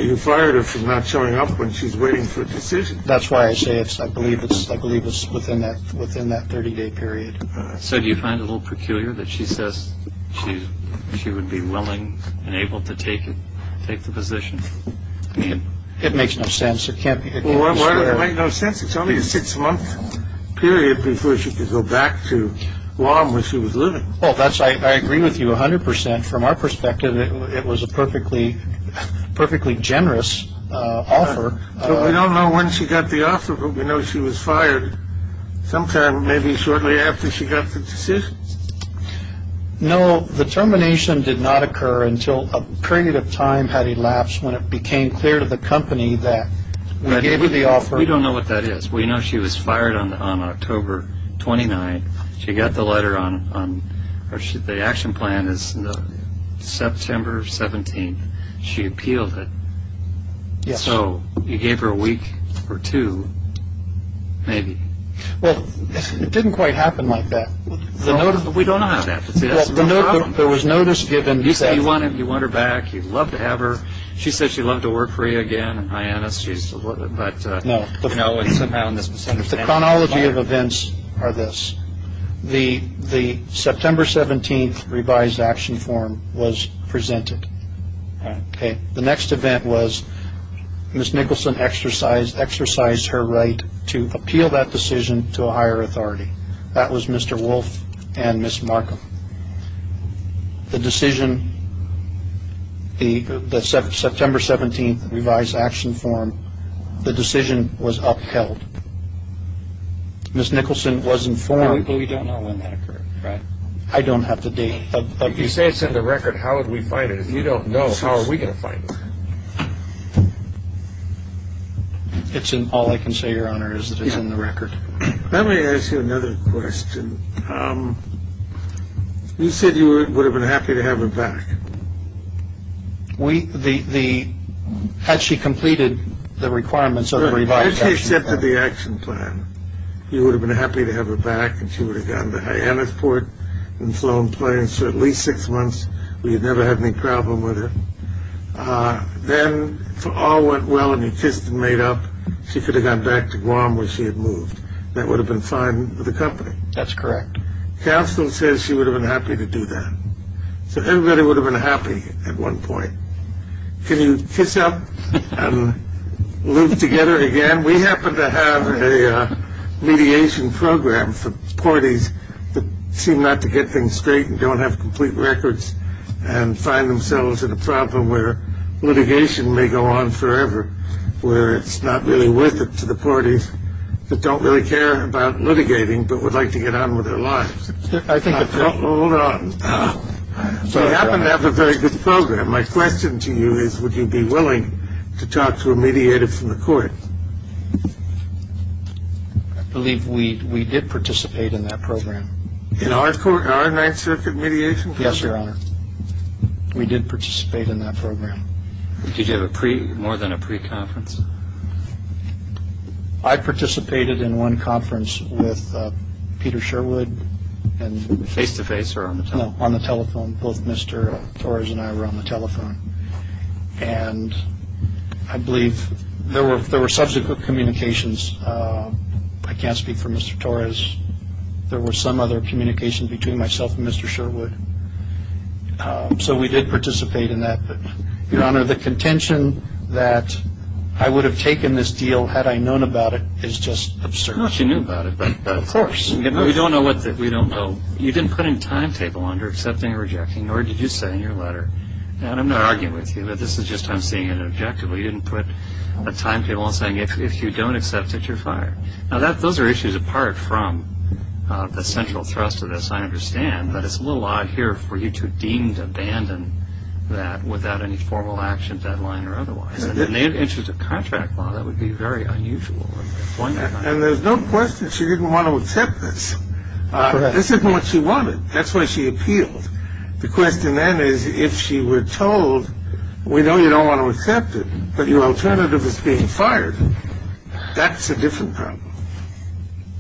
you fired her for not showing up when she's waiting for a decision. That's why I say I believe it's within that 30-day period. So do you find it a little peculiar that she says she would be willing and able to take the position? It makes no sense. It can't be. Well, why would it make no sense? It's only a six-month period before she could go back to Guam where she was living. Well, I agree with you 100 percent. From our perspective, it was a perfectly generous offer. We don't know when she got the offer, but we know she was fired sometime maybe shortly after she got the decision. No, the termination did not occur until a period of time had elapsed when it became clear to the company that we gave her the offer. We don't know what that is. We know she was fired on October 29. She got the letter on – the action plan is September 17. She appealed it. Yes. So you gave her a week or two, maybe. Well, it didn't quite happen like that. We don't know how that happens. There was notice given. You said you want her back. You'd love to have her. She said she'd love to work for you again in Hyannis. No. No, it's somehow in this misunderstanding. The chronology of events are this. The September 17th revised action form was presented. The next event was Ms. Nicholson exercised her right to appeal that decision to a higher authority. That was Mr. Wolf and Ms. Markham. The decision – the September 17th revised action form, the decision was upheld. Ms. Nicholson was informed – But we don't know when that occurred, right? I don't have the date. If you say it's in the record, how would we find it? If you don't know, how are we going to find it? It's in – all I can say, Your Honor, is that it's in the record. Let me ask you another question. You said you would have been happy to have her back. We – the – had she completed the requirements of the revised action plan. Had she accepted the action plan, you would have been happy to have her back and she would have gone to Hyannisport and flown planes for at least six months. We had never had any problem with her. Then, if all went well and you kissed and made up, she could have gone back to Guam where she had moved. That would have been fine with the company. That's correct. Counsel says she would have been happy to do that. So everybody would have been happy at one point. Can you kiss up and live together again? We happen to have a mediation program for parties that seem not to get things straight and don't have complete records and find themselves in a problem where litigation may go on forever, where it's not really worth it to the parties that don't really care about litigating but would like to get on with their lives. Hold on. We happen to have a very good program. My question to you is would you be willing to talk to a mediator from the court? I believe we did participate in that program. In our Ninth Circuit mediation program? Yes, Your Honor. We did participate in that program. Did you have more than a pre-conference? I participated in one conference with Peter Sherwood. Face-to-face or on the telephone? On the telephone. Both Mr. Torres and I were on the telephone. And I believe there were subsequent communications. I can't speak for Mr. Torres. There were some other communications between myself and Mr. Sherwood. So we did participate in that. But, Your Honor, the contention that I would have taken this deal had I known about it is just absurd. Not that you knew about it, but of course. We don't know what we don't know. You didn't put in a timetable under accepting or rejecting, nor did you say in your letter. And I'm not arguing with you, but this is just I'm seeing it objectively. You didn't put a timetable on saying if you don't accept it, you're fired. Now, those are issues apart from the central thrust of this, I understand. But it's a little odd here for you to deem to abandon that without any formal action, deadline, or otherwise. In the interest of contract law, that would be very unusual. And there's no question she didn't want to accept this. This isn't what she wanted. That's why she appealed. The question then is if she were told, we know you don't want to accept it, but your alternative is being fired, that's a different problem.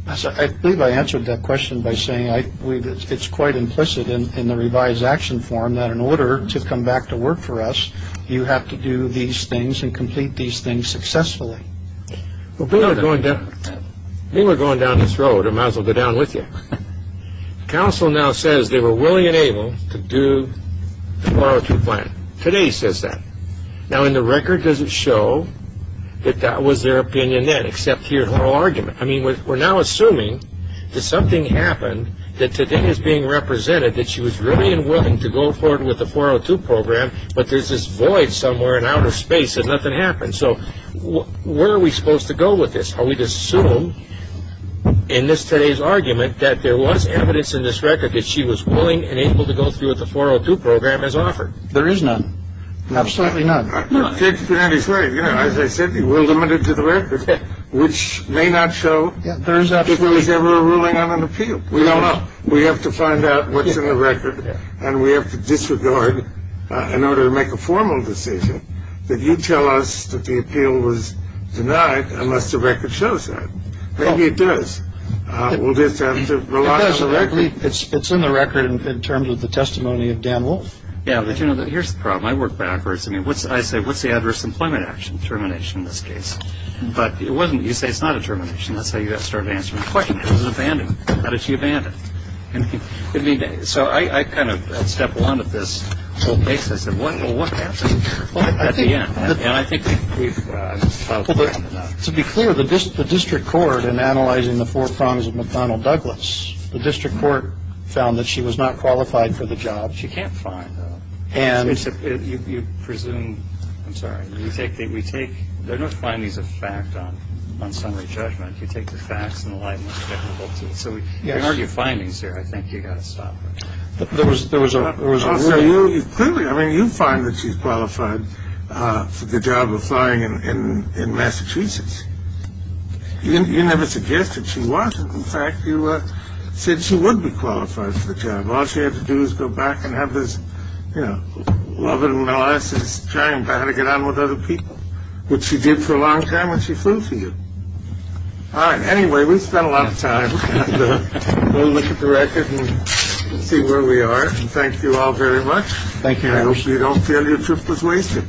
I believe I answered that question by saying I believe it's quite implicit in the revised action form that in order to come back to work for us, you have to do these things and complete these things successfully. We were going down this road. I might as well go down with you. Counsel now says they were willing and able to do the borrow-through plan. Today says that. Now, the record doesn't show that that was their opinion then, except here's her argument. I mean, we're now assuming that something happened that today is being represented that she was really unwilling to go forward with the 402 program, but there's this void somewhere in outer space that nothing happened. So where are we supposed to go with this? Are we to assume in today's argument that there was evidence in this record that she was willing and able to go through with the 402 program as offered? There is none. Absolutely none. David Pinanti is right. As I said, we're limited to the record, which may not show that there was ever a ruling on an appeal. We don't know. We have to find out what's in the record, and we have to disregard in order to make a formal decision that you tell us that the appeal was denied unless the record shows that. Maybe it does. We'll just have to rely on the record. It does. It's in the record in terms of the testimony of Dan Wolf. Here's the problem. I work backwards. I say, what's the adverse employment action termination in this case? But it wasn't. You say it's not a termination. That's how you got started answering the question. It was abandonment. How did she abandon? So I kind of stepped along with this whole case. I said, well, what happened at the end? And I think we've found out enough. To be clear, the district court in analyzing the four prongs of McDonnell Douglas, the district court found that she was not qualified for the job. She can't fly. And you presume. I'm sorry. We think that we take. There are no findings of fact on summary judgment. You take the facts in the light. So we argue findings here. I think you got to stop. There was there was a result. Clearly, I mean, you find that she's qualified for the job of flying in Massachusetts. You never suggested she wasn't. In fact, you said she would be qualified for the job. All she had to do is go back and have this, you know, love it. And I said, it's trying to get on with other people. Which she did for a long time when she flew for you. All right. Anyway, we spent a lot of time. We'll look at the record and see where we are. And thank you all very much. Thank you. I hope you don't feel your trip was wasted.